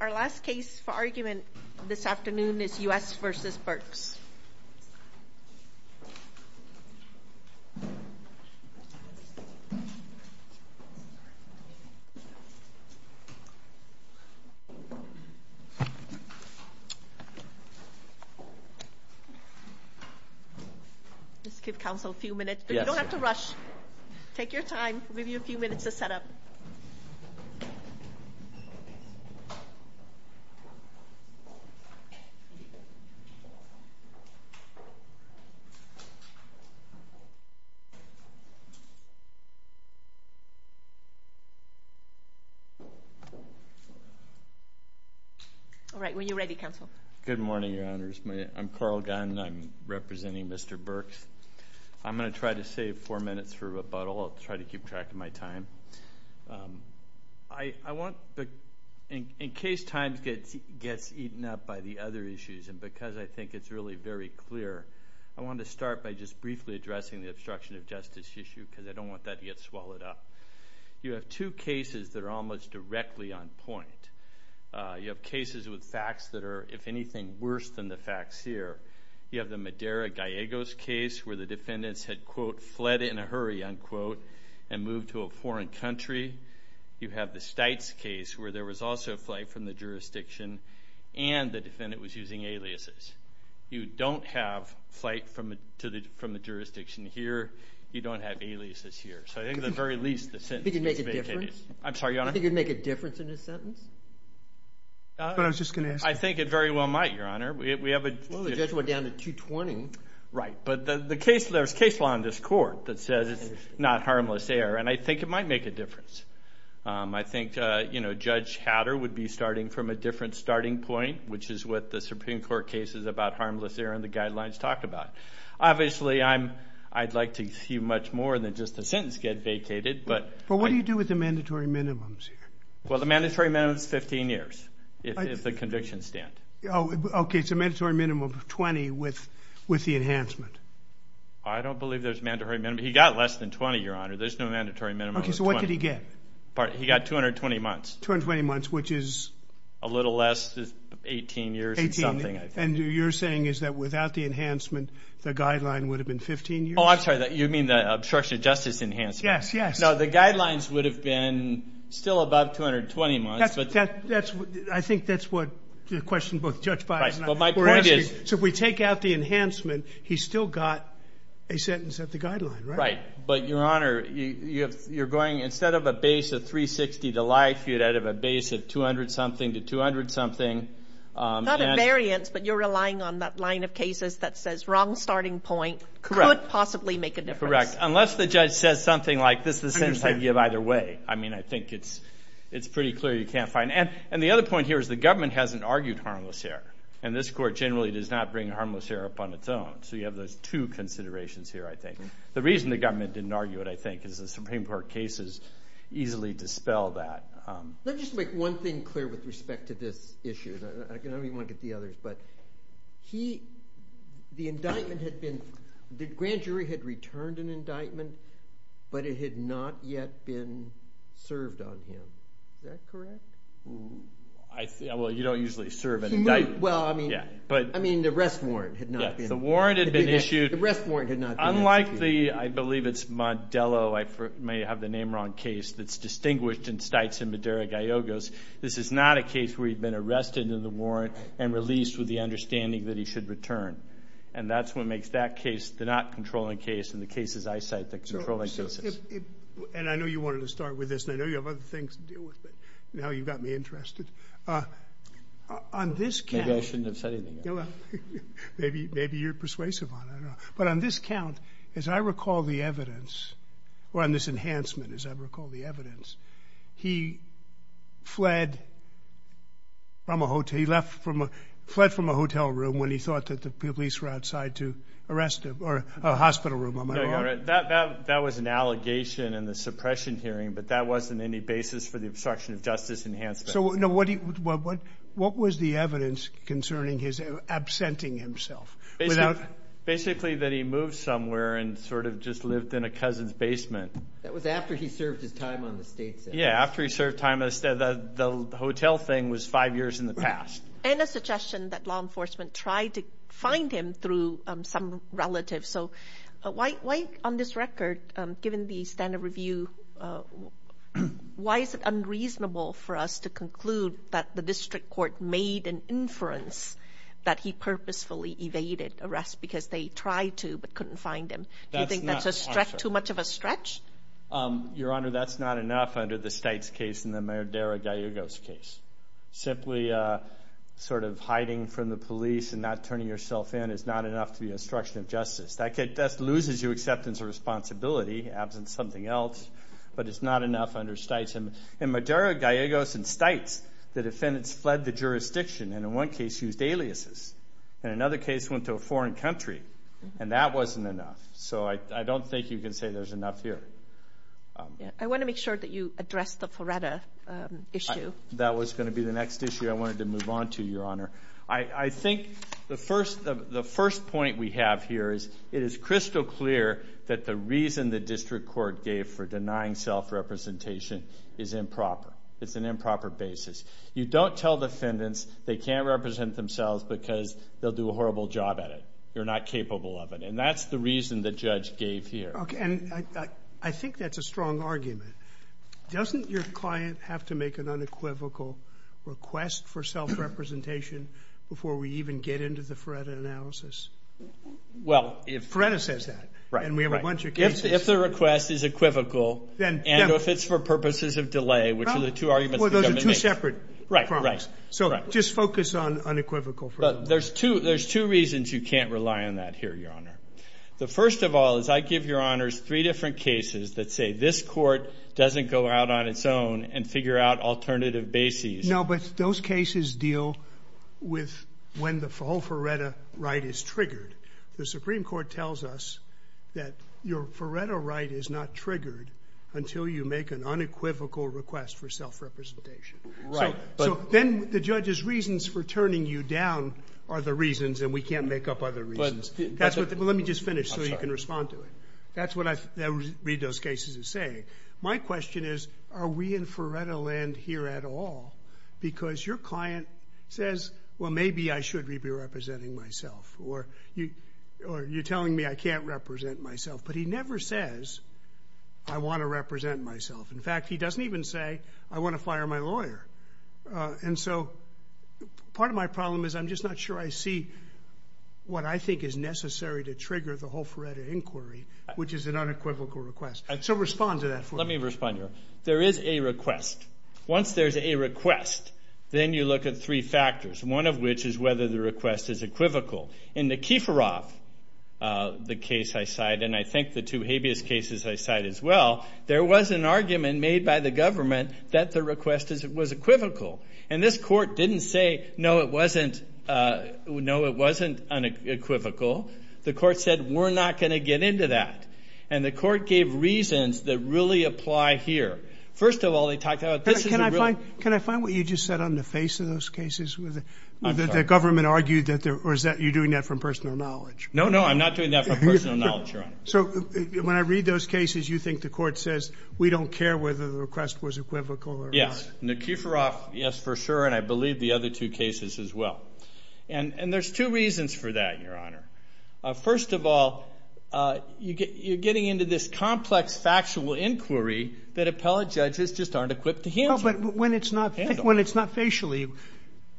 Our last case for argument this afternoon is U.S. v. Burks. Let's give counsel a few minutes. You don't have to rush. Take your time. We'll give you a few minutes to set up. All right. When you're ready, counsel. Good morning, Your Honors. I'm Carl Gunn. I'm representing Mr. Burks. I'm going to try to save four minutes for rebuttal. I'll try to keep track of my time. In case time gets eaten up by the other issues and because I think it's really very clear, I want to start by just briefly addressing the obstruction of justice issue because I don't want that to get swallowed up. You have two cases that are almost directly on point. You have cases with facts that are, if anything, worse than the facts here. You have the Madera-Gallegos case where the defendants had, quote, You have the Stites case where there was also a flight from the jurisdiction and the defendant was using aliases. You don't have flight from the jurisdiction here. You don't have aliases here. So I think at the very least the sentence makes a big case. I'm sorry, Your Honor? Do you think it would make a difference in his sentence? That's what I was just going to ask. I think it very well might, Your Honor. Well, the judge went down to 220. Right, but there's case law in this court that says it's not harmless error, and I think it might make a difference. I think Judge Hatter would be starting from a different starting point, which is what the Supreme Court cases about harmless error in the guidelines talked about. Obviously, I'd like to see much more than just the sentence get vacated. But what do you do with the mandatory minimums here? Well, the mandatory minimum is 15 years if the convictions stand. Okay, so mandatory minimum of 20 with the enhancement. I don't believe there's mandatory minimum. He got less than 20, Your Honor. There's no mandatory minimum of 20. Okay, so what did he get? He got 220 months. 220 months, which is? A little less than 18 years or something, I think. And you're saying is that without the enhancement, the guideline would have been 15 years? Oh, I'm sorry. You mean the obstruction of justice enhancement? Yes, yes. No, the guidelines would have been still about 220 months. I think that's what the question both Judge Bias and I were asking. So if we take out the enhancement, he's still got a sentence at the guideline, right? But, Your Honor, you're going instead of a base of 360 to life, you'd have a base of 200-something to 200-something. Not a variance, but you're relying on that line of cases that says wrong starting point. Correct. Could possibly make a difference. Correct. Unless the judge says something like this is the sentence I can give either way. I mean, I think it's pretty clear you can't find. And the other point here is the government hasn't argued harmless here. And this court generally does not bring harmless here upon its own. So you have those two considerations here, I think. The reason the government didn't argue it, I think, is the Supreme Court cases easily dispel that. Let me just make one thing clear with respect to this issue. I don't even want to get to the others. The indictment had been – the grand jury had returned an indictment, but it had not yet been served on him. Is that correct? Well, you don't usually serve an indictment. Well, I mean, the arrest warrant had not been issued. The warrant had been issued. The arrest warrant had not been issued. Unlike the – I believe it's Modelo – I may have the name wrong – case that's distinguished in Stites and Madera-Gallegos, this is not a case where he'd been arrested in the warrant and released with the understanding that he should return. And that's what makes that case the not controlling case and the cases I cite the controlling cases. And I know you wanted to start with this, and I know you have other things to deal with, but now you've got me interested. On this count – Maybe I shouldn't have said anything else. Maybe you're persuasive on it. But on this count, as I recall the evidence – or on this enhancement, as I recall the evidence, he fled from a hotel – he left from a – fled from a hotel room when he thought that the police were outside to arrest him, or a hospital room, am I wrong? No, you're right. That was an allegation in the suppression hearing, but that wasn't any basis for the obstruction of justice enhancement. So, no, what was the evidence concerning his absenting himself? Basically that he moved somewhere and sort of just lived in a cousin's basement. That was after he served his time on the state sentence. Yeah, after he served time on the – the hotel thing was five years in the past. And a suggestion that law enforcement tried to find him through some relative. So why, on this record, given the standard review, why is it unreasonable for us to conclude that the district court made an inference that he purposefully evaded arrest because they tried to but couldn't find him? Do you think that's too much of a stretch? Your Honor, that's not enough under the Stites case and the Madera-Gallegos case. Simply sort of hiding from the police and not turning yourself in is not enough to be obstruction of justice. That loses you acceptance of responsibility, absent something else, but it's not enough under Stites. In Madera-Gallegos and Stites, the defendants fled the jurisdiction and in one case used aliases. In another case went to a foreign country, and that wasn't enough. So I don't think you can say there's enough here. I want to make sure that you address the Floretta issue. That was going to be the next issue I wanted to move on to, Your Honor. I think the first point we have here is it is crystal clear that the reason the district court gave for denying self-representation is improper. It's an improper basis. You don't tell defendants they can't represent themselves because they'll do a horrible job at it. You're not capable of it, and that's the reason the judge gave here. I think that's a strong argument. Doesn't your client have to make an unequivocal request for self-representation before we even get into the Floretta analysis? Floretta says that, and we have a bunch of cases. If the request is equivocal and if it's for purposes of delay, which are the two arguments the government makes. Well, those are two separate problems. Right, right. So just focus on unequivocal. There's two reasons you can't rely on that here, Your Honor. The first of all is I give Your Honors three different cases that say this court doesn't go out on its own and figure out alternative bases. No, but those cases deal with when the whole Floretta right is triggered. The Supreme Court tells us that your Floretta right is not triggered until you make an unequivocal request for self-representation. Right. So then the judge's reasons for turning you down are the reasons, and we can't make up other reasons. Let me just finish so you can respond to it. That's what I read those cases as saying. My question is, are we in Floretta land here at all? Because your client says, well, maybe I should be representing myself, or you're telling me I can't represent myself. But he never says, I want to represent myself. In fact, he doesn't even say, I want to fire my lawyer. And so part of my problem is I'm just not sure I see what I think is necessary to trigger the whole Floretta inquiry, which is an unequivocal request. So respond to that for me. Let me respond, Your Honor. There is a request. Once there's a request, then you look at three factors, one of which is whether the request is equivocal. In the Kieferov, the case I cite, and I think the two habeas cases I cite as well, there was an argument made by the government that the request was equivocal. And this court didn't say, no, it wasn't unequivocal. The court said, we're not going to get into that. And the court gave reasons that really apply here. First of all, they talked about this is a really – Can I find what you just said on the face of those cases? The government argued that there – or is that you're doing that from personal knowledge? No, no, I'm not doing that from personal knowledge, Your Honor. So when I read those cases, you think the court says, we don't care whether the request was equivocal or not? In the Kieferov, yes, for sure, and I believe the other two cases as well. And there's two reasons for that, Your Honor. First of all, you're getting into this complex factual inquiry that appellate judges just aren't equipped to handle. But when it's not facially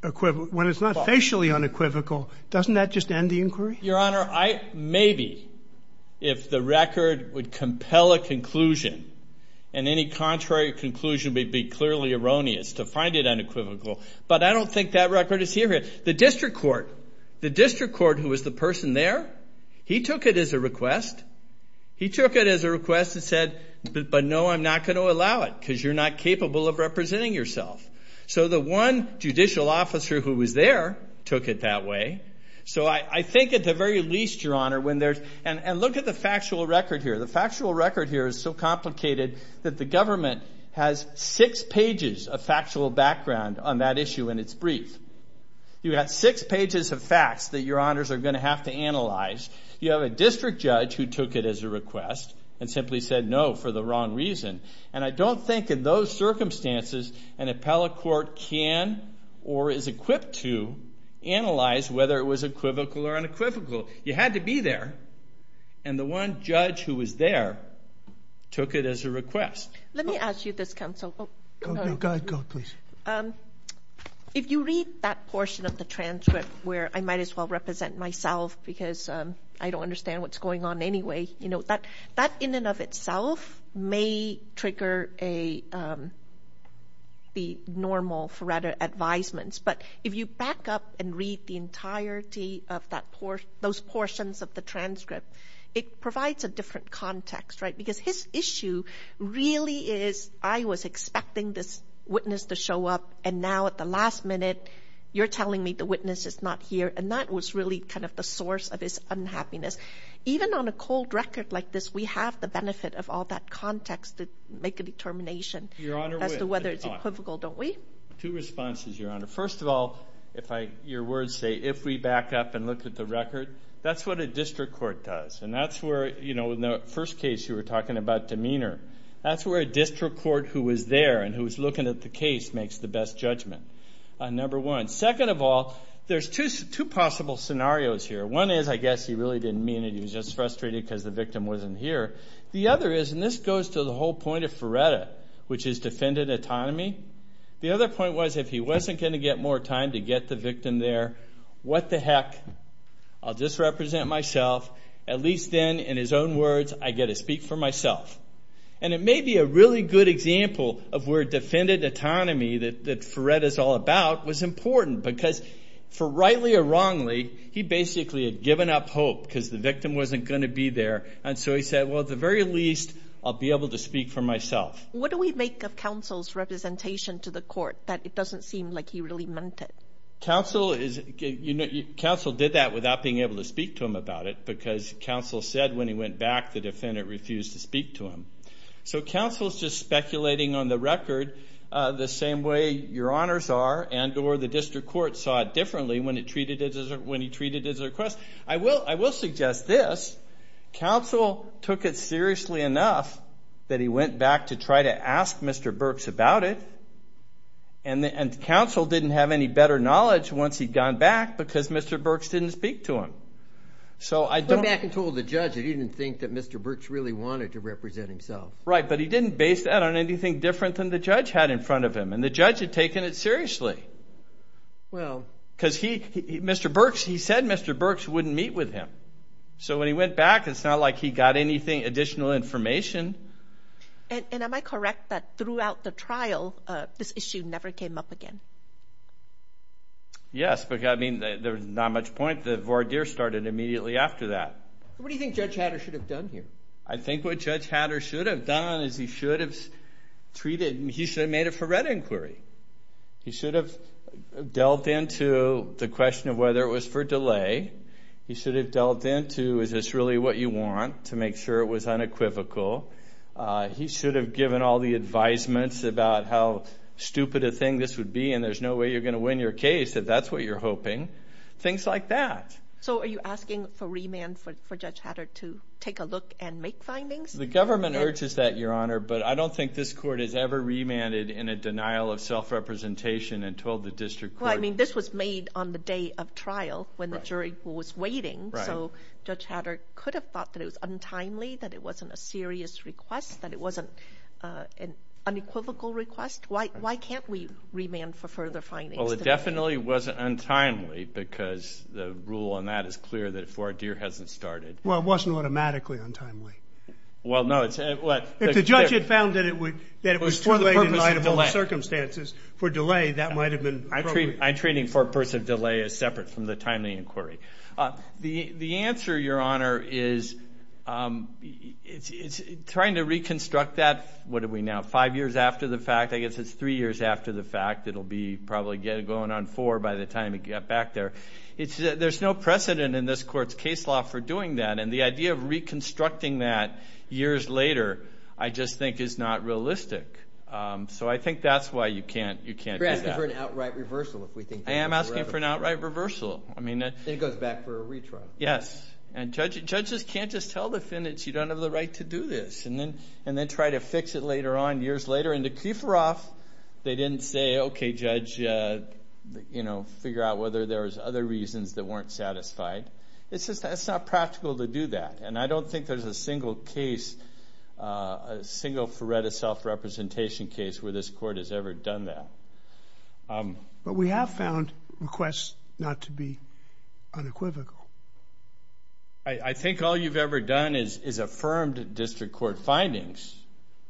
unequivocal, doesn't that just end the inquiry? Your Honor, I – maybe if the record would compel a conclusion and any contrary conclusion would be clearly erroneous to find it unequivocal. But I don't think that record is here yet. The district court, the district court who was the person there, he took it as a request. He took it as a request and said, but no, I'm not going to allow it because you're not capable of representing yourself. So the one judicial officer who was there took it that way. So I think at the very least, Your Honor, when there's – and look at the factual record here. The factual record here is so complicated that the government has six pages of factual background on that issue in its brief. You have six pages of facts that Your Honors are going to have to analyze. You have a district judge who took it as a request and simply said no for the wrong reason. And I don't think in those circumstances an appellate court can or is equipped to analyze whether it was equivocal or unequivocal. You had to be there. And the one judge who was there took it as a request. Let me ask you this, counsel. Go ahead, please. If you read that portion of the transcript where I might as well represent myself because I don't understand what's going on anyway, that in and of itself may trigger the normal Faretta advisements. But if you back up and read the entirety of those portions of the transcript, it provides a different context, right? Because his issue really is I was expecting this witness to show up, and now at the last minute you're telling me the witness is not here. And that was really kind of the source of his unhappiness. Even on a cold record like this, we have the benefit of all that context to make a determination as to whether it's equivocal, don't we? Two responses, Your Honor. First of all, your words say if we back up and look at the record, that's what a district court does. And that's where, you know, in the first case you were talking about demeanor, that's where a district court who was there and who was looking at the case makes the best judgment, number one. Second of all, there's two possible scenarios here. One is I guess he really didn't mean it. He was just frustrated because the victim wasn't here. The other is, and this goes to the whole point of Faretta, which is defendant autonomy. The other point was if he wasn't going to get more time to get the victim there, what the heck? I'll just represent myself. At least then, in his own words, I get to speak for myself. And it may be a really good example of where defendant autonomy that Faretta's all about was important because for rightly or wrongly, he basically had given up hope because the victim wasn't going to be there. And so he said, well, at the very least, I'll be able to speak for myself. What do we make of counsel's representation to the court that it doesn't seem like he really meant it? Counsel did that without being able to speak to him about it because counsel said when he went back, the defendant refused to speak to him. So counsel's just speculating on the record the same way your honors are and or the district court saw it differently when he treated it as a request. I will suggest this. Counsel took it seriously enough that he went back to try to ask Mr. Burks about it, and counsel didn't have any better knowledge once he'd gone back because Mr. Burks didn't speak to him. He went back and told the judge that he didn't think that Mr. Burks really wanted to represent himself. Right, but he didn't base that on anything different than the judge had in front of him, and the judge had taken it seriously because he said Mr. Burks wouldn't meet with him. So when he went back, it's not like he got anything additional information. And am I correct that throughout the trial this issue never came up again? Yes, but there's not much point. The voir dire started immediately after that. What do you think Judge Hatter should have done here? I think what Judge Hatter should have done is he should have treated it like he should have made it for red inquiry. He should have delved into the question of whether it was for delay. He should have delved into is this really what you want to make sure it was unequivocal. He should have given all the advisements about how stupid a thing this would be and there's no way you're going to win your case if that's what you're hoping, things like that. So are you asking for remand for Judge Hatter to take a look and make findings? The government urges that, Your Honor, but I don't think this court has ever remanded in a denial of self-representation and told the district court. Well, I mean this was made on the day of trial when the jury was waiting. So Judge Hatter could have thought that it was untimely, that it wasn't a serious request, that it wasn't an unequivocal request. Why can't we remand for further findings? Well, it definitely wasn't untimely because the rule on that is clear that voir dire hasn't started. Well, it wasn't automatically untimely. Well, no. If the judge had found that it was too late in light of all the circumstances for delay, that might have been appropriate. I'm treating purpose of delay as separate from the timely inquiry. The answer, Your Honor, is trying to reconstruct that, what are we now, five years after the fact? I guess it's three years after the fact. It will be probably going on four by the time we get back there. There's no precedent in this court's case law for doing that, and the idea of reconstructing that years later I just think is not realistic. So I think that's why you can't do that. You're asking for an outright reversal if we think that's a reversal. I am asking for an outright reversal. Then it goes back for a retrial. Yes. And judges can't just tell defendants you don't have the right to do this and then try to fix it later on years later. However, in the Kieferoff, they didn't say, okay, judge, figure out whether there was other reasons that weren't satisfied. It's just not practical to do that. And I don't think there's a single case, a single Feretta self-representation case where this court has ever done that. But we have found requests not to be unequivocal. I think all you've ever done is affirmed district court findings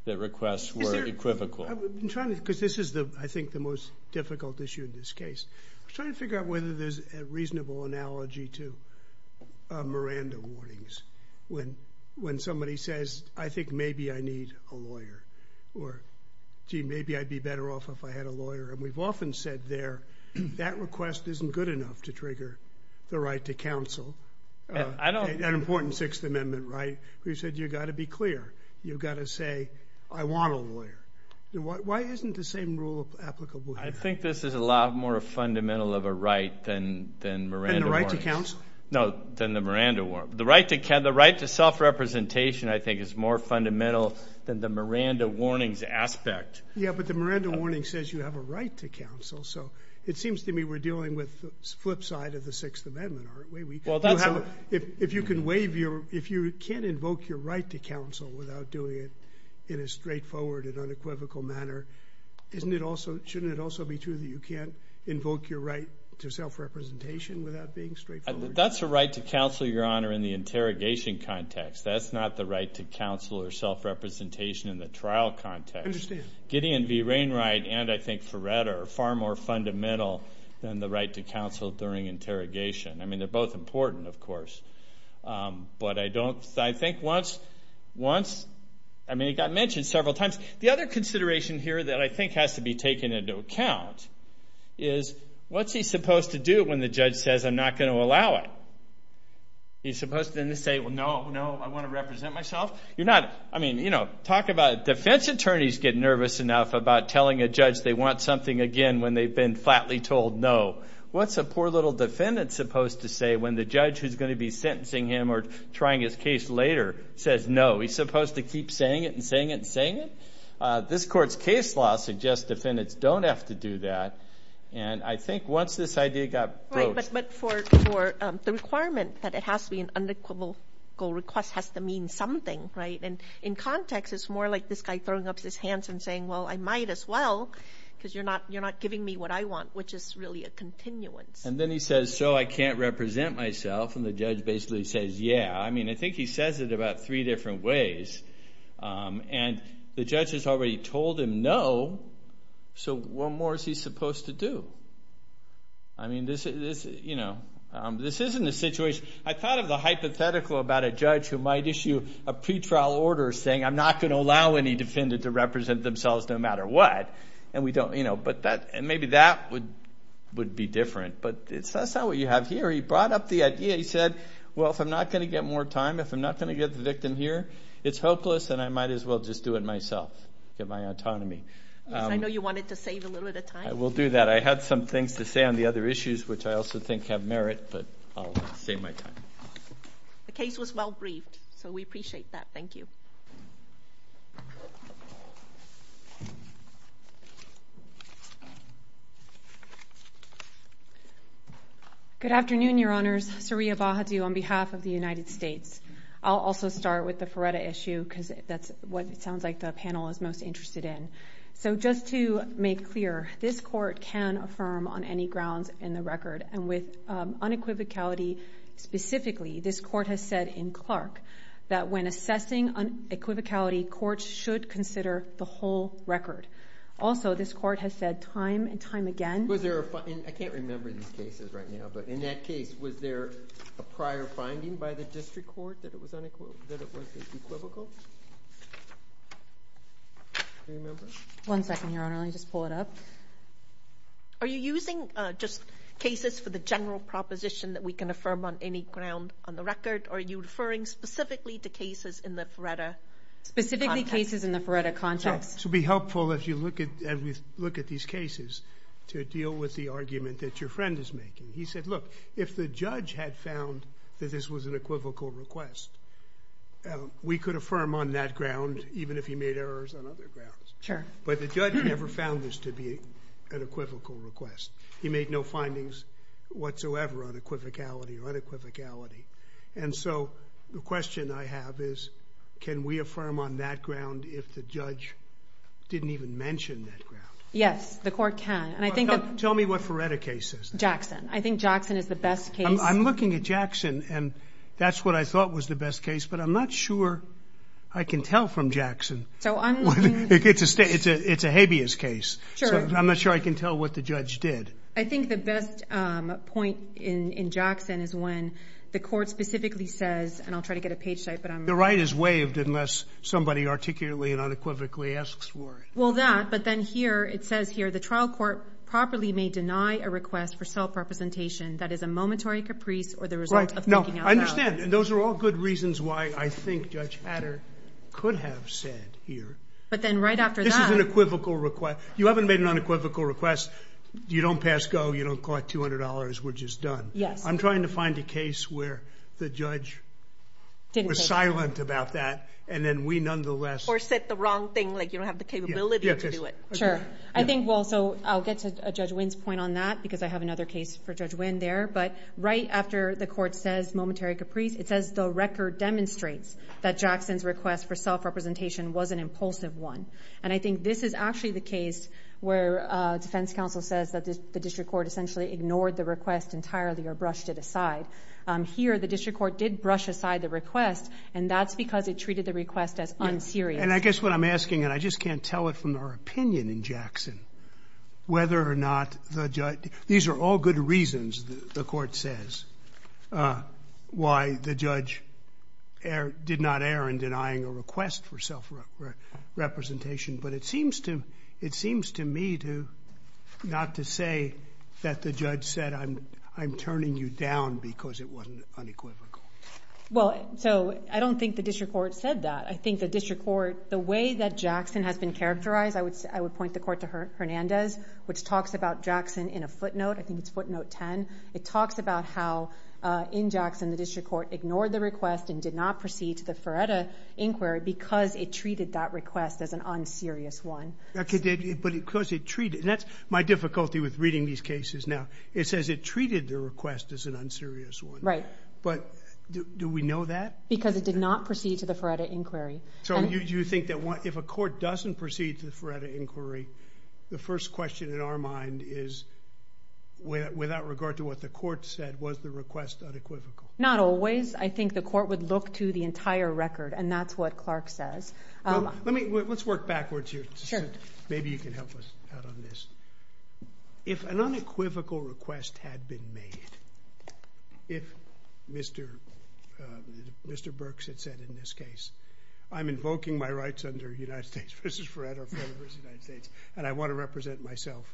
that requests were equivocal. Because this is, I think, the most difficult issue in this case. We're trying to figure out whether there's a reasonable analogy to Miranda warnings when somebody says, I think maybe I need a lawyer, or gee, maybe I'd be better off if I had a lawyer. And we've often said there that request isn't good enough to trigger the right to counsel. An important Sixth Amendment right where you said you've got to be clear. You've got to say, I want a lawyer. Why isn't the same rule applicable here? I think this is a lot more fundamental of a right than Miranda warnings. Than the right to counsel? No, than the Miranda warning. The right to self-representation, I think, is more fundamental than the Miranda warnings aspect. Yeah, but the Miranda warning says you have a right to counsel. So it seems to me we're dealing with the flip side of the Sixth Amendment, aren't we? If you can't invoke your right to counsel without doing it in a straightforward and unequivocal manner, shouldn't it also be true that you can't invoke your right to self-representation without being straightforward? That's a right to counsel, Your Honor, in the interrogation context. That's not the right to counsel or self-representation in the trial context. I understand. Gideon v. Wainwright and, I think, Ferretta are far more fundamental than the right to counsel during interrogation. I mean, they're both important, of course. But I think once, I mean, it got mentioned several times. The other consideration here that I think has to be taken into account is what's he supposed to do when the judge says, I'm not going to allow it? He's supposed to then say, well, no, no, I want to represent myself. You're not, I mean, you know, talk about it. Defense attorneys get nervous enough about telling a judge they want something again when they've been flatly told no. What's a poor little defendant supposed to say when the judge who's going to be sentencing him or trying his case later says no? He's supposed to keep saying it and saying it and saying it? This Court's case law suggests defendants don't have to do that. And I think once this idea got broached. But for the requirement that it has to be an unequivocal request has to mean something, right? And in context, it's more like this guy throwing up his hands and saying, well, I might as well because you're not giving me what I want, which is really a continuance. And then he says, so I can't represent myself? And the judge basically says, yeah. I mean, I think he says it about three different ways. And the judge has already told him no, so what more is he supposed to do? I mean, this isn't a situation. I thought of the hypothetical about a judge who might issue a pretrial order saying, I'm not going to allow any defendant to represent themselves no matter what. And maybe that would be different. But that's not what you have here. He brought up the idea. He said, well, if I'm not going to get more time, if I'm not going to get the victim here, it's hopeless and I might as well just do it myself, get my autonomy. I know you wanted to save a little bit of time. I will do that. I had some things to say on the other issues, which I also think have merit, but I'll save my time. The case was well briefed, so we appreciate that. Thank you. Good afternoon, Your Honors. Saria Bahadu on behalf of the United States. I'll also start with the Feretta issue because that's what it sounds like the panel is most interested in. So just to make clear, this court can affirm on any grounds in the record, and with unequivocality specifically, this court has said in Clark that when assessing unequivocality, courts should consider the whole record. Also, this court has said time and time again. I can't remember these cases right now, but in that case, was there a prior finding by the district court that it was unequivocal? Do you remember? One second, Your Honor. Let me just pull it up. Are you using just cases for the general proposition that we can affirm on any ground on the record, or are you referring specifically to cases in the Feretta context? Specifically cases in the Feretta context. It would be helpful as we look at these cases to deal with the argument that your friend is making. He said, look, if the judge had found that this was an equivocal request, we could affirm on that ground even if he made errors on other grounds. Sure. But the judge never found this to be an equivocal request. He made no findings whatsoever on equivocality or unequivocality. And so the question I have is can we affirm on that ground if the judge didn't even mention that ground? Yes, the court can. Tell me what Feretta case is. Jackson. I think Jackson is the best case. I'm looking at Jackson, and that's what I thought was the best case, but I'm not sure I can tell from Jackson. It's a habeas case. Sure. I'm not sure I can tell what the judge did. I think the best point in Jackson is when the court specifically says, and I'll try to get a page type, but I'm not sure. The right is waived unless somebody articulately and unequivocally asks for it. Well, that. But then here it says here the trial court properly may deny a request for self-representation that is a momentary caprice or the result of making out the facts. Right. No, I understand. Those are all good reasons why I think Judge Hatter could have said here. But then right after that. This is an equivocal request. You haven't made an unequivocal request. You don't pass go. You don't call it $200. We're just done. Yes. I'm trying to find a case where the judge was silent about that, and then we nonetheless. Or said the wrong thing, like you don't have the capability to do it. Sure. I think also I'll get to Judge Wynn's point on that, because I have another case for Judge Wynn there. But right after the court says momentary caprice, it says the record demonstrates that Jackson's request for self-representation was an impulsive one. And I think this is actually the case where defense counsel says that the district court essentially ignored the request entirely or brushed it aside. Here the district court did brush aside the request, and that's because it treated the request as unserious. And I guess what I'm asking, and I just can't tell it from our opinion in Jackson, whether or not the judge. These are all good reasons, the court says, why the judge did not err in denying a request for self-representation. But it seems to me not to say that the judge said, I'm turning you down because it wasn't unequivocal. Well, so I don't think the district court said that. I think the district court, the way that Jackson has been characterized, I would point the court to Hernandez, which talks about Jackson in a footnote. I think it's footnote 10. It talks about how in Jackson the district court ignored the request and did not proceed to the Feretta inquiry because it treated that request as an unserious one. But because it treated, and that's my difficulty with reading these cases now, it says it treated the request as an unserious one. But do we know that? Because it did not proceed to the Feretta inquiry. So you think that if a court doesn't proceed to the Feretta inquiry, the first question in our mind is without regard to what the court said, was the request unequivocal? Not always. I think the court would look to the entire record, and that's what Clark says. Let's work backwards here. Maybe you can help us out on this. If an unequivocal request had been made, if Mr. Burks had said in this case, I'm invoking my rights under United States v. Feretta or Feretta v. United States, and I want to represent myself,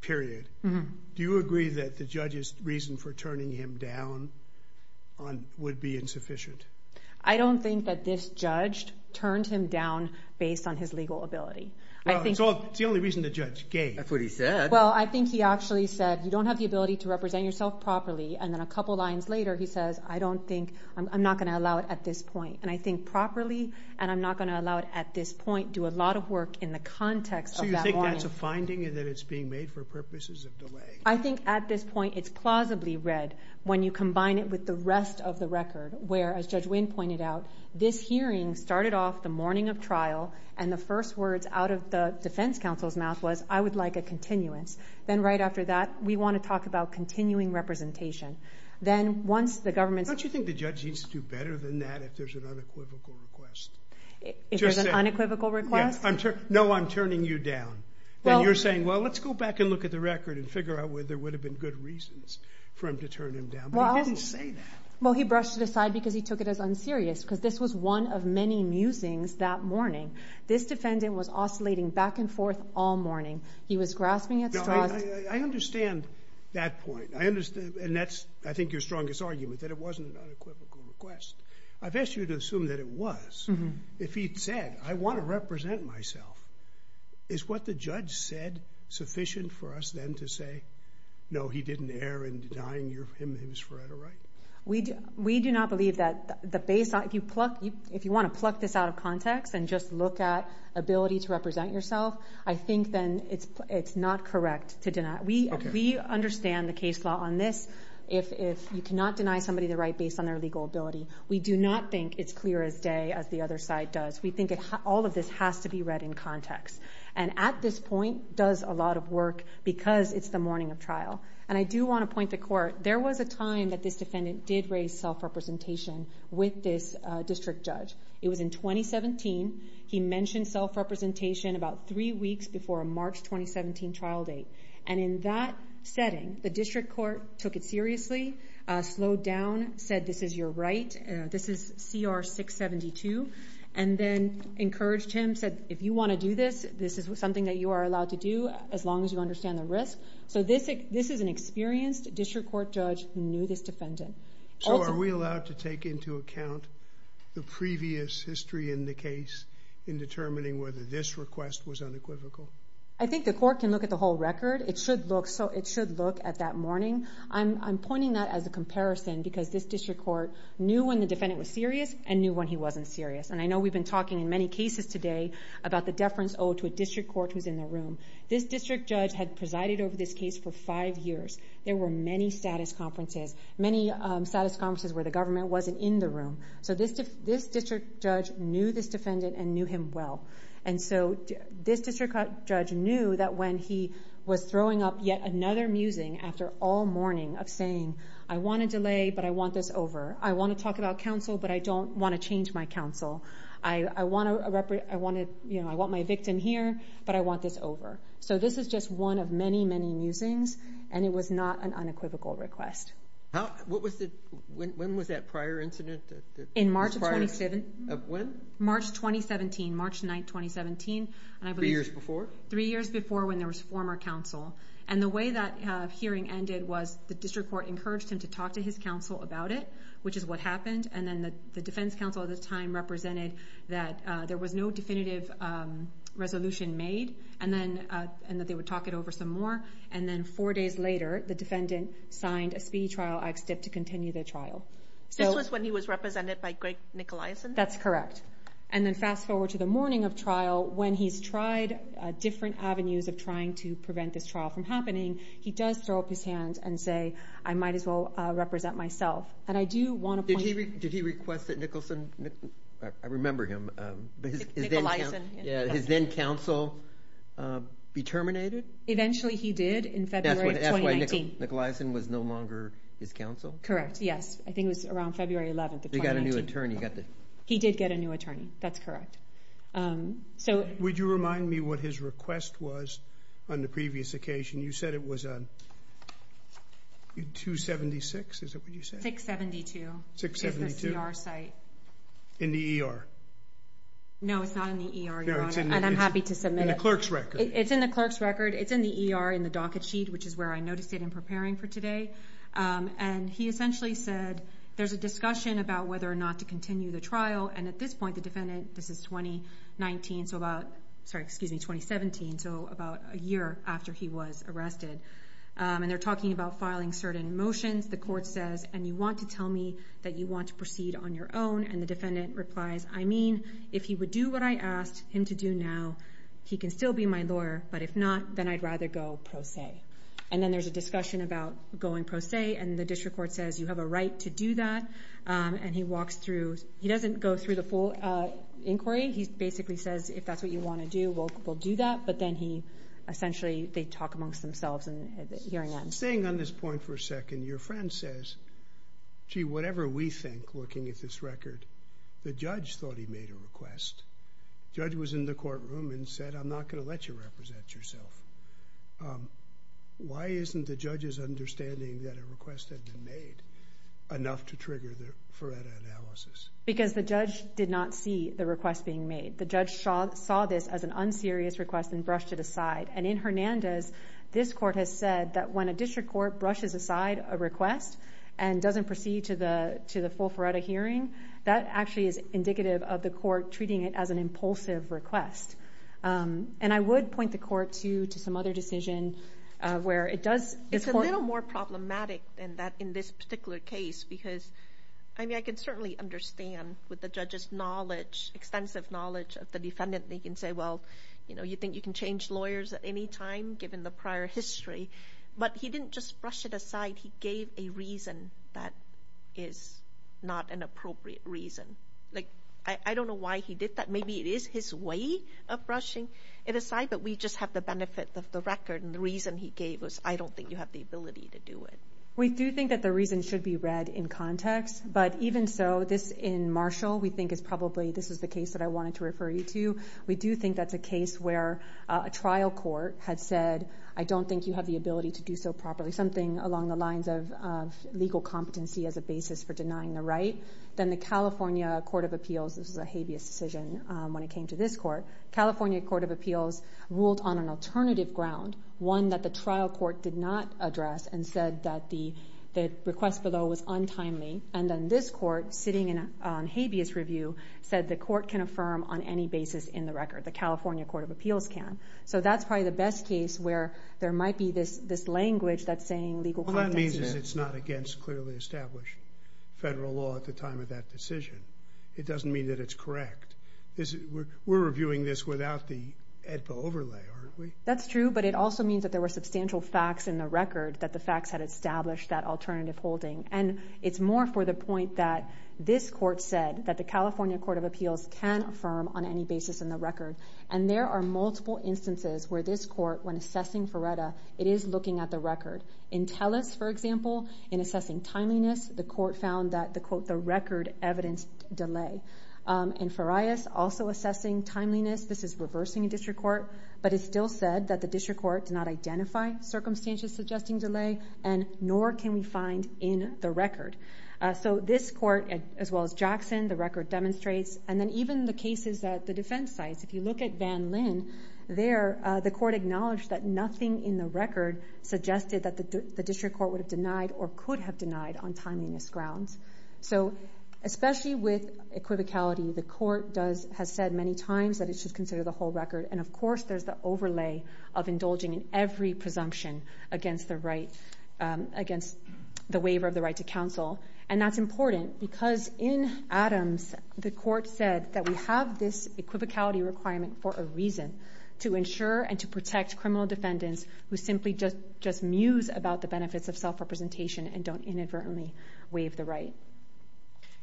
period, do you agree that the judge's reason for turning him down would be insufficient? I don't think that this judge turned him down based on his legal ability. It's the only reason the judge gave. That's what he said. Well, I think he actually said, you don't have the ability to represent yourself properly, and then a couple lines later he says, I don't think, I'm not going to allow it at this point. And I think properly and I'm not going to allow it at this point do a lot of work in the context of that warning. Do you think that's a finding and that it's being made for purposes of delay? I think at this point it's plausibly read when you combine it with the rest of the record, where, as Judge Winn pointed out, this hearing started off the morning of trial and the first words out of the defense counsel's mouth was, I would like a continuance. Then right after that, we want to talk about continuing representation. Then once the government's Don't you think the judge needs to do better than that if there's an unequivocal request? If there's an unequivocal request? No, I'm turning you down. You're saying, well, let's go back and look at the record and figure out where there would have been good reasons for him to turn him down. But he didn't say that. Well, he brushed it aside because he took it as unserious because this was one of many musings that morning. This defendant was oscillating back and forth all morning. He was grasping at straws. I understand that point. And that's, I think, your strongest argument, that it wasn't an unequivocal request. I've asked you to assume that it was. If he'd said, I want to represent myself, is what the judge said sufficient for us then to say, no, he didn't err in denying him his forever right? We do not believe that. If you want to pluck this out of context and just look at ability to represent yourself, I think then it's not correct to deny. We understand the case law on this. If you cannot deny somebody the right based on their legal ability, we do not think it's clear as day as the other side does. We think all of this has to be read in context. And at this point does a lot of work because it's the morning of trial. And I do want to point to court. There was a time that this defendant did raise self-representation with this district judge. It was in 2017. He mentioned self-representation about three weeks before a March 2017 trial date. And in that setting, the district court took it seriously, slowed down, said this is your right. This is CR 672. And then encouraged him, said if you want to do this, this is something that you are allowed to do as long as you understand the risk. So this is an experienced district court judge who knew this defendant. So are we allowed to take into account the previous history in the case in determining whether this request was unequivocal? I think the court can look at the whole record. It should look at that morning. I'm pointing that as a comparison because this district court knew when the defendant was serious and knew when he wasn't serious. And I know we've been talking in many cases today about the deference owed to a district court who's in the room. This district judge had presided over this case for five years. There were many status conferences, many status conferences where the government wasn't in the room. So this district judge knew this defendant and knew him well. And so this district judge knew that when he was throwing up he would get another musing after all morning of saying, I want to delay, but I want this over. I want to talk about counsel, but I don't want to change my counsel. I want my victim here, but I want this over. So this is just one of many, many musings, and it was not an unequivocal request. When was that prior incident? In March of 2017. When? March 2017, March 9, 2017. Three years before? Three years before when there was former counsel. And the way that hearing ended was the district court encouraged him to talk to his counsel about it, which is what happened. And then the defense counsel at the time represented that there was no definitive resolution made and that they would talk it over some more. And then four days later, the defendant signed a speedy trial act stip to continue the trial. This was when he was represented by Greg Nicolaisen? That's correct. And then fast forward to the morning of trial when he's tried different avenues of trying to prevent this trial from happening, he does throw up his hands and say, I might as well represent myself. Did he request that Nicolaisen, I remember him, his then counsel be terminated? Eventually he did in February of 2019. That's why Nicolaisen was no longer his counsel? Correct, yes. I think it was around February 11 of 2019. He got a new attorney. He did get a new attorney, that's correct. Would you remind me what his request was on the previous occasion? You said it was 276, is that what you said? 672. 672. In the ER. No, it's not in the ER, Your Honor. And I'm happy to submit it. In the clerk's record. It's in the clerk's record. It's in the ER in the docket sheet, which is where I noticed it in preparing for today. And he essentially said, there's a discussion about whether or not to continue the trial. And at this point, the defendant, this is 2019, so about, sorry, excuse me, 2017, so about a year after he was arrested. And they're talking about filing certain motions. The court says, and you want to tell me that you want to proceed on your own. And the defendant replies, I mean, if he would do what I asked him to do now, he can still be my lawyer. But if not, then I'd rather go pro se. And then there's a discussion about going pro se. And the district court says, you have a right to do that. And he walks through, he doesn't go through the full inquiry. He basically says, if that's what you want to do, we'll do that. But then he, essentially, they talk amongst themselves. Staying on this point for a second, your friend says, gee, whatever we think, looking at this record, the judge thought he made a request. The judge was in the courtroom and said, I'm not going to let you represent yourself. Why isn't the judge's understanding that a request had been made enough to trigger the FARETA analysis? Because the judge did not see the request being made. The judge saw this as an unserious request and brushed it aside. And in Hernandez, this court has said that when a district court brushes aside a request and doesn't proceed to the full FARETA hearing, that actually is indicative of the court treating it as an impulsive request. And I would point the court to some other decision where it does. It's a little more problematic than that in this particular case because, I mean, I can certainly understand with the judge's knowledge, extensive knowledge of the defendant, they can say, well, you know, you think you can change lawyers at any time given the prior history. But he didn't just brush it aside. He gave a reason that is not an appropriate reason. Like, I don't know why he did that. Maybe it is his way of brushing it aside, but we just have the benefit of the record. And the reason he gave was, I don't think you have the ability to do it. We do think that the reason should be read in context. But even so, this in Marshall, we think is probably, this is the case that I wanted to refer you to. We do think that's a case where a trial court had said, I don't think you have the ability to do so properly, something along the lines of legal competency as a basis for denying the right. Then the California Court of Appeals, this was a habeas decision when it came to this court, California Court of Appeals ruled on an alternative ground, one that the trial court did not address and said that the request below was untimely. And then this court, sitting on habeas review, said the court can affirm on any basis in the record. The California Court of Appeals can. So that's probably the best case where there might be this language that's saying legal competency. Well, that means it's not against clearly established federal law at the time of that decision. It doesn't mean that it's correct. We're reviewing this without the AEDPA overlay, aren't we? That's true, but it also means that there were substantial facts in the record that the facts had established that alternative holding. And it's more for the point that this court said that the California Court of Appeals can affirm on any basis in the record. And there are multiple instances where this court, when assessing Ferretta, it is looking at the record. In Telus, for example, in assessing timeliness, the court found that the record evidenced delay. In Farias, also assessing timeliness, this is reversing a district court, but it still said that the district court did not identify circumstantial suggesting delay, and nor can we find in the record. So this court, as well as Jackson, the record demonstrates. And then even the cases at the defense sites, if you look at Van Linn, there the court acknowledged that nothing in the record suggested that the district court would have denied or could have denied on timeliness grounds. So especially with equivocality, the court has said many times that it should consider the whole record. And, of course, there's the overlay of indulging in every presumption against the waiver of the right to counsel. And that's important because in Adams, the court said that we have this equivocality requirement for a reason, to ensure and to protect criminal defendants who simply just muse about the benefits of self-representation and don't inadvertently waive the right.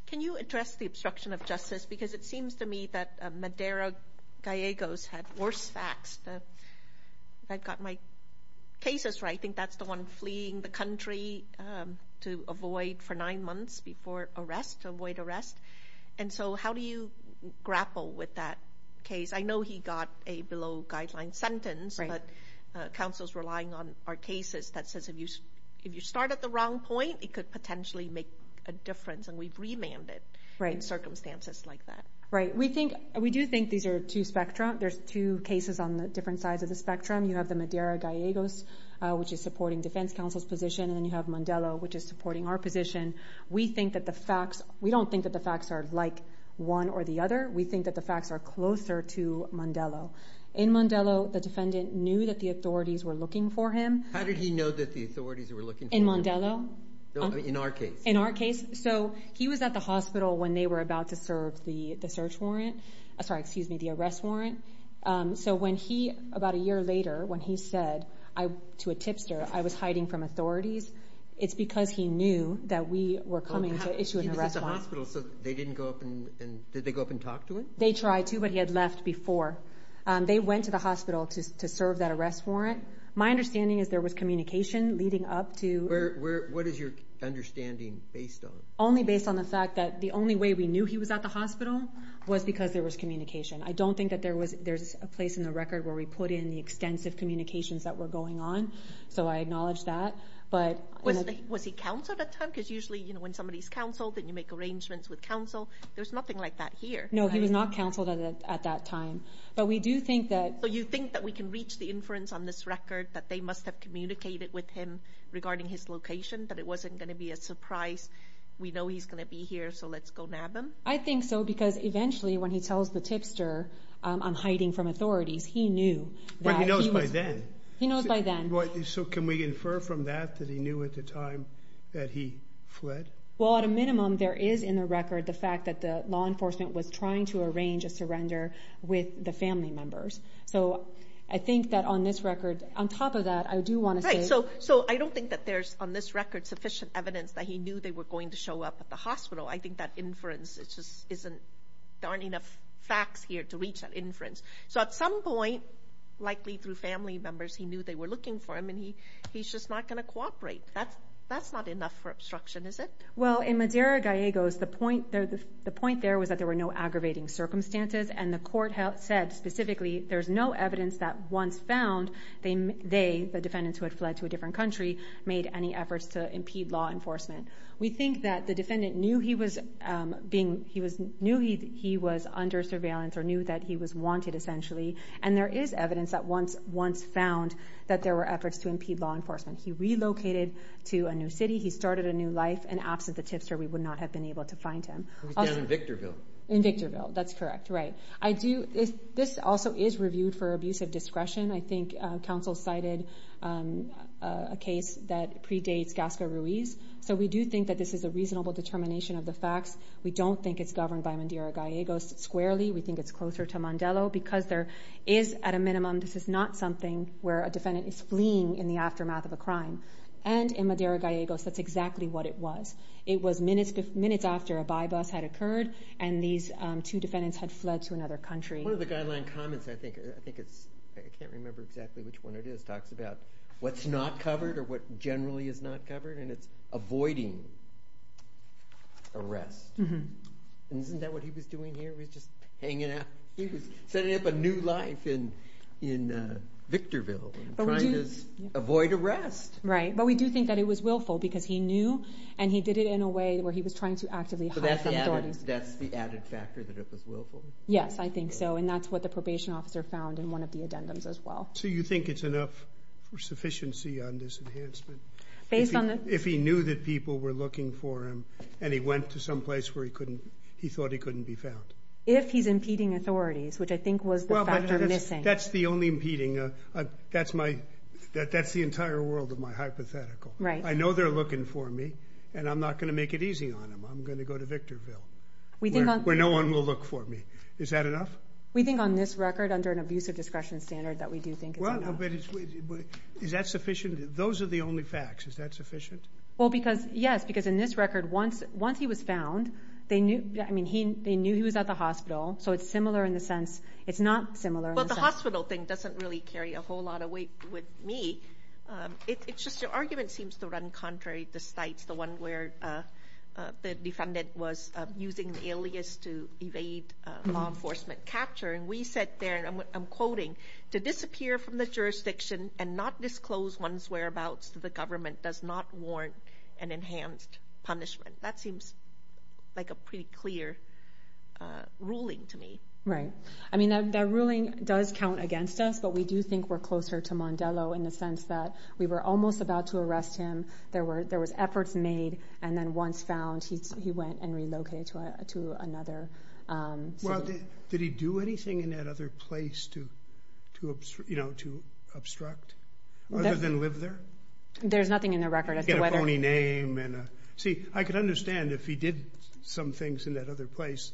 Can you address the obstruction of justice? Because it seems to me that Madera Gallegos had worse facts. If I've got my cases right, I think that's the one fleeing the country to avoid for nine months before arrest, to avoid arrest. And so how do you grapple with that case? I know he got a below-guideline sentence, but counsel's relying on our cases that says if you start at the wrong point, it could potentially make a difference. And we've remanded in circumstances like that. Right. We do think these are two spectrums. There's two cases on the different sides of the spectrum. You have the Madera Gallegos, which is supporting defense counsel's position, and then you have Mandela, which is supporting our position. We don't think that the facts are like one or the other. We think that the facts are closer to Mandela. In Mandela, the defendant knew that the authorities were looking for him. How did he know that the authorities were looking for him? In Mandela. No, in our case. In our case. So he was at the hospital when they were about to serve the search warrant. Sorry, excuse me, the arrest warrant. So when he, about a year later, when he said to a tipster, I was hiding from authorities, it's because he knew that we were coming to issue an arrest warrant. He was at the hospital, so they didn't go up and did they go up and talk to him? They tried to, but he had left before. They went to the hospital to serve that arrest warrant. My understanding is there was communication leading up to. What is your understanding based on? Only based on the fact that the only way we knew he was at the hospital was because there was communication. I don't think that there's a place in the record where we put in the extensive communications that were going on, so I acknowledge that. Was he counseled at that time? Because usually when somebody's counseled, then you make arrangements with counsel. There's nothing like that here. No, he was not counseled at that time. But we do think that. So you think that we can reach the inference on this record that they must have communicated with him regarding his location, that it wasn't going to be a surprise, we know he's going to be here, so let's go nab him? I think so, because eventually when he tells the tipster, I'm hiding from authorities, he knew. Well, he knows by then. He knows by then. So can we infer from that that he knew at the time that he fled? Well, at a minimum, there is in the record the fact that the law enforcement was trying to arrange a surrender with the family members. So I think that on this record, on top of that, I do want to say... Right, so I don't think that there's on this record sufficient evidence that he knew they were going to show up at the hospital. I think that inference, there aren't enough facts here to reach that inference. So at some point, likely through family members, he knew they were looking for him, and he's just not going to cooperate. That's not enough for obstruction, is it? Well, in Madera Gallegos, the point there was that there were no aggravating circumstances, and the court said specifically there's no evidence that once found they, the defendants who had fled to a different country, made any efforts to impede law enforcement. We think that the defendant knew he was under surveillance or knew that he was wanted, essentially, and there is evidence that once found that there were efforts to impede law enforcement. He relocated to a new city. He started a new life. And absent the tipster, we would not have been able to find him. He was down in Victorville. In Victorville. That's correct. Right. This also is reviewed for abuse of discretion. I think counsel cited a case that predates Gasco-Ruiz. So we do think that this is a reasonable determination of the facts. We don't think it's governed by Madera Gallegos squarely. We think it's closer to Mandelo because there is, at a minimum, this is not something where a defendant is fleeing in the aftermath of a crime. And in Madera Gallegos, that's exactly what it was. It was minutes after a by-bus had occurred, and these two defendants had fled to another country. One of the guideline comments, I think it's, I can't remember exactly which one it is, talks about what's not covered or what generally is not covered, and it's avoiding arrest. And isn't that what he was doing here? He was just hanging out. He was setting up a new life in Victorville, trying to avoid arrest. Right. But we do think that it was willful because he knew, and he did it in a way where he was trying to actively hide from authorities. So that's the added factor, that it was willful? Yes, I think so, and that's what the probation officer found in one of the addendums as well. So you think it's enough for sufficiency on this enhancement? Based on the- If he knew that people were looking for him, and he went to some place where he thought he couldn't be found. If he's impeding authorities, which I think was the factor missing. That's the only impeding. That's the entire world of my hypothetical. I know they're looking for me, and I'm not going to make it easy on them. I'm going to go to Victorville, where no one will look for me. Is that enough? We think on this record, under an abusive discretion standard, that we do think it's enough. Is that sufficient? Those are the only facts. Is that sufficient? Well, yes, because in this record, once he was found, they knew he was at the hospital. So it's similar in the sense, it's not similar in the sense- Well, the hospital thing doesn't really carry a whole lot of weight with me. It's just your argument seems to run contrary to the sites, the one where the defendant was using the alias to evade law enforcement capture. And we said there, and I'm quoting, to disappear from the jurisdiction and not disclose one's whereabouts to the government does not warrant an enhanced punishment. That seems like a pretty clear ruling to me. Right. I mean, that ruling does count against us, but we do think we're closer to Mondelo in the sense that we were almost about to arrest him. There were efforts made, and then once found, he went and relocated to another city. Well, did he do anything in that other place to obstruct, other than live there? There's nothing in the record. He had a phony name. See, I could understand if he did some things in that other place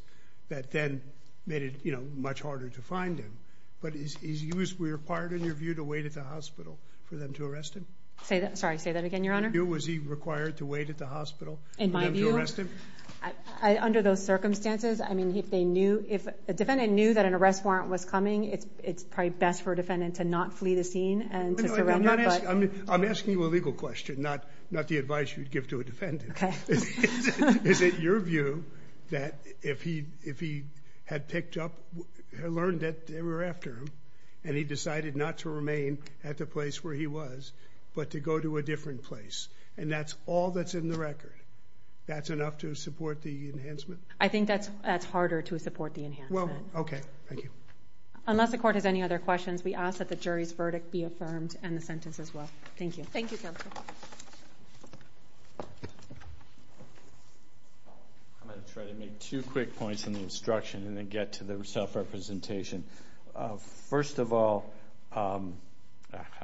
that then made it much harder to find him. But was he required, in your view, to wait at the hospital for them to arrest him? Sorry, say that again, Your Honor? Was he required to wait at the hospital for them to arrest him? Under those circumstances, I mean, if a defendant knew that an arrest warrant was coming, it's probably best for a defendant to not flee the scene and to surrender. I'm asking you a legal question, not the advice you'd give to a defendant. Is it your view that if he had picked up, learned that they were after him, and he decided not to remain at the place where he was, but to go to a different place, and that's all that's in the record, that's enough to support the enhancement? I think that's harder to support the enhancement. Well, okay. Thank you. Unless the Court has any other questions, we ask that the jury's verdict be affirmed and the sentence as well. Thank you. Thank you, Counsel. I'm going to try to make two quick points in the instruction and then get to the self-representation. First of all, I'm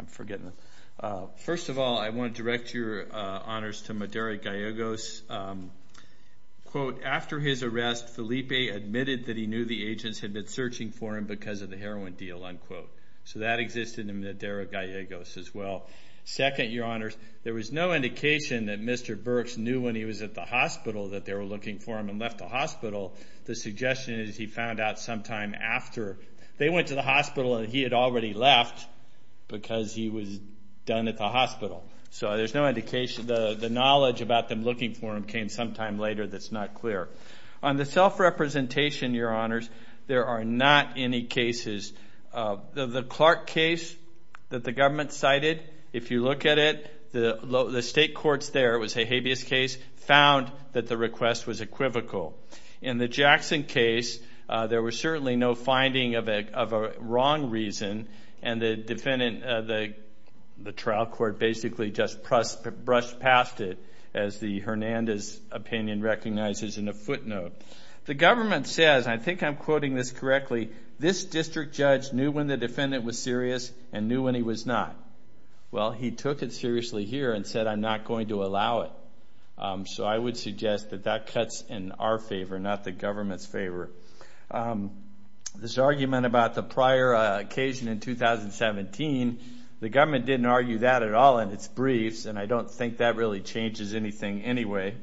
forgetting. First of all, I want to direct your honors to Madera-Gallegos. Quote, after his arrest, Felipe admitted that he knew the agents had been searching for him because of the heroin deal, unquote. So that existed in Madera-Gallegos as well. Second, your honors, there was no indication that Mr. Burks knew when he was at the hospital that they were looking for him and left the hospital. The suggestion is he found out sometime after they went to the hospital and he had already left because he was done at the hospital. So there's no indication. The knowledge about them looking for him came sometime later that's not clear. On the self-representation, your honors, there are not any cases. The Clark case that the government cited, if you look at it, the state courts there, it was a habeas case, found that the request was equivocal. In the Jackson case, there was certainly no finding of a wrong reason, and the trial court basically just brushed past it, as the Hernandez opinion recognizes in a footnote. The government says, and I think I'm quoting this correctly, this district judge knew when the defendant was serious and knew when he was not. Well, he took it seriously here and said, I'm not going to allow it. So I would suggest that that cuts in our favor, not the government's favor. This argument about the prior occasion in 2017, the government didn't argue that at all in its briefs, and I don't think that really changes anything anyway.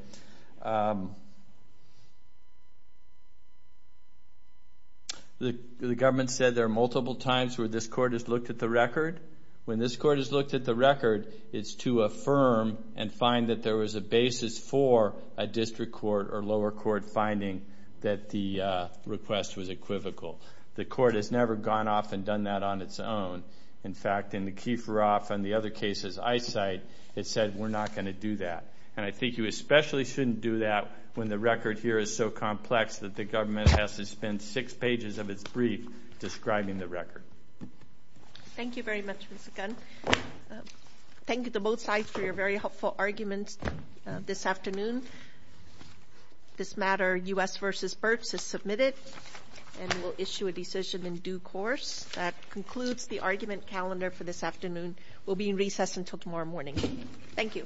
The government said there are multiple times where this court has looked at the record. When this court has looked at the record, it's to affirm and find that there was a basis for a district court or lower court finding that the request was equivocal. The court has never gone off and done that on its own. In fact, in the Kieferoff and the other cases I cite, it said, we're not going to do that. And I think you especially shouldn't do that when the record here is so complex that the government has to spend six pages of its brief describing the record. Thank you very much, Mr. Gunn. Thank you to both sides for your very helpful arguments this afternoon. This matter, U.S. v. Birx, is submitted and will issue a decision in due course. That concludes the argument calendar for this afternoon. We'll be in recess until tomorrow morning. Thank you.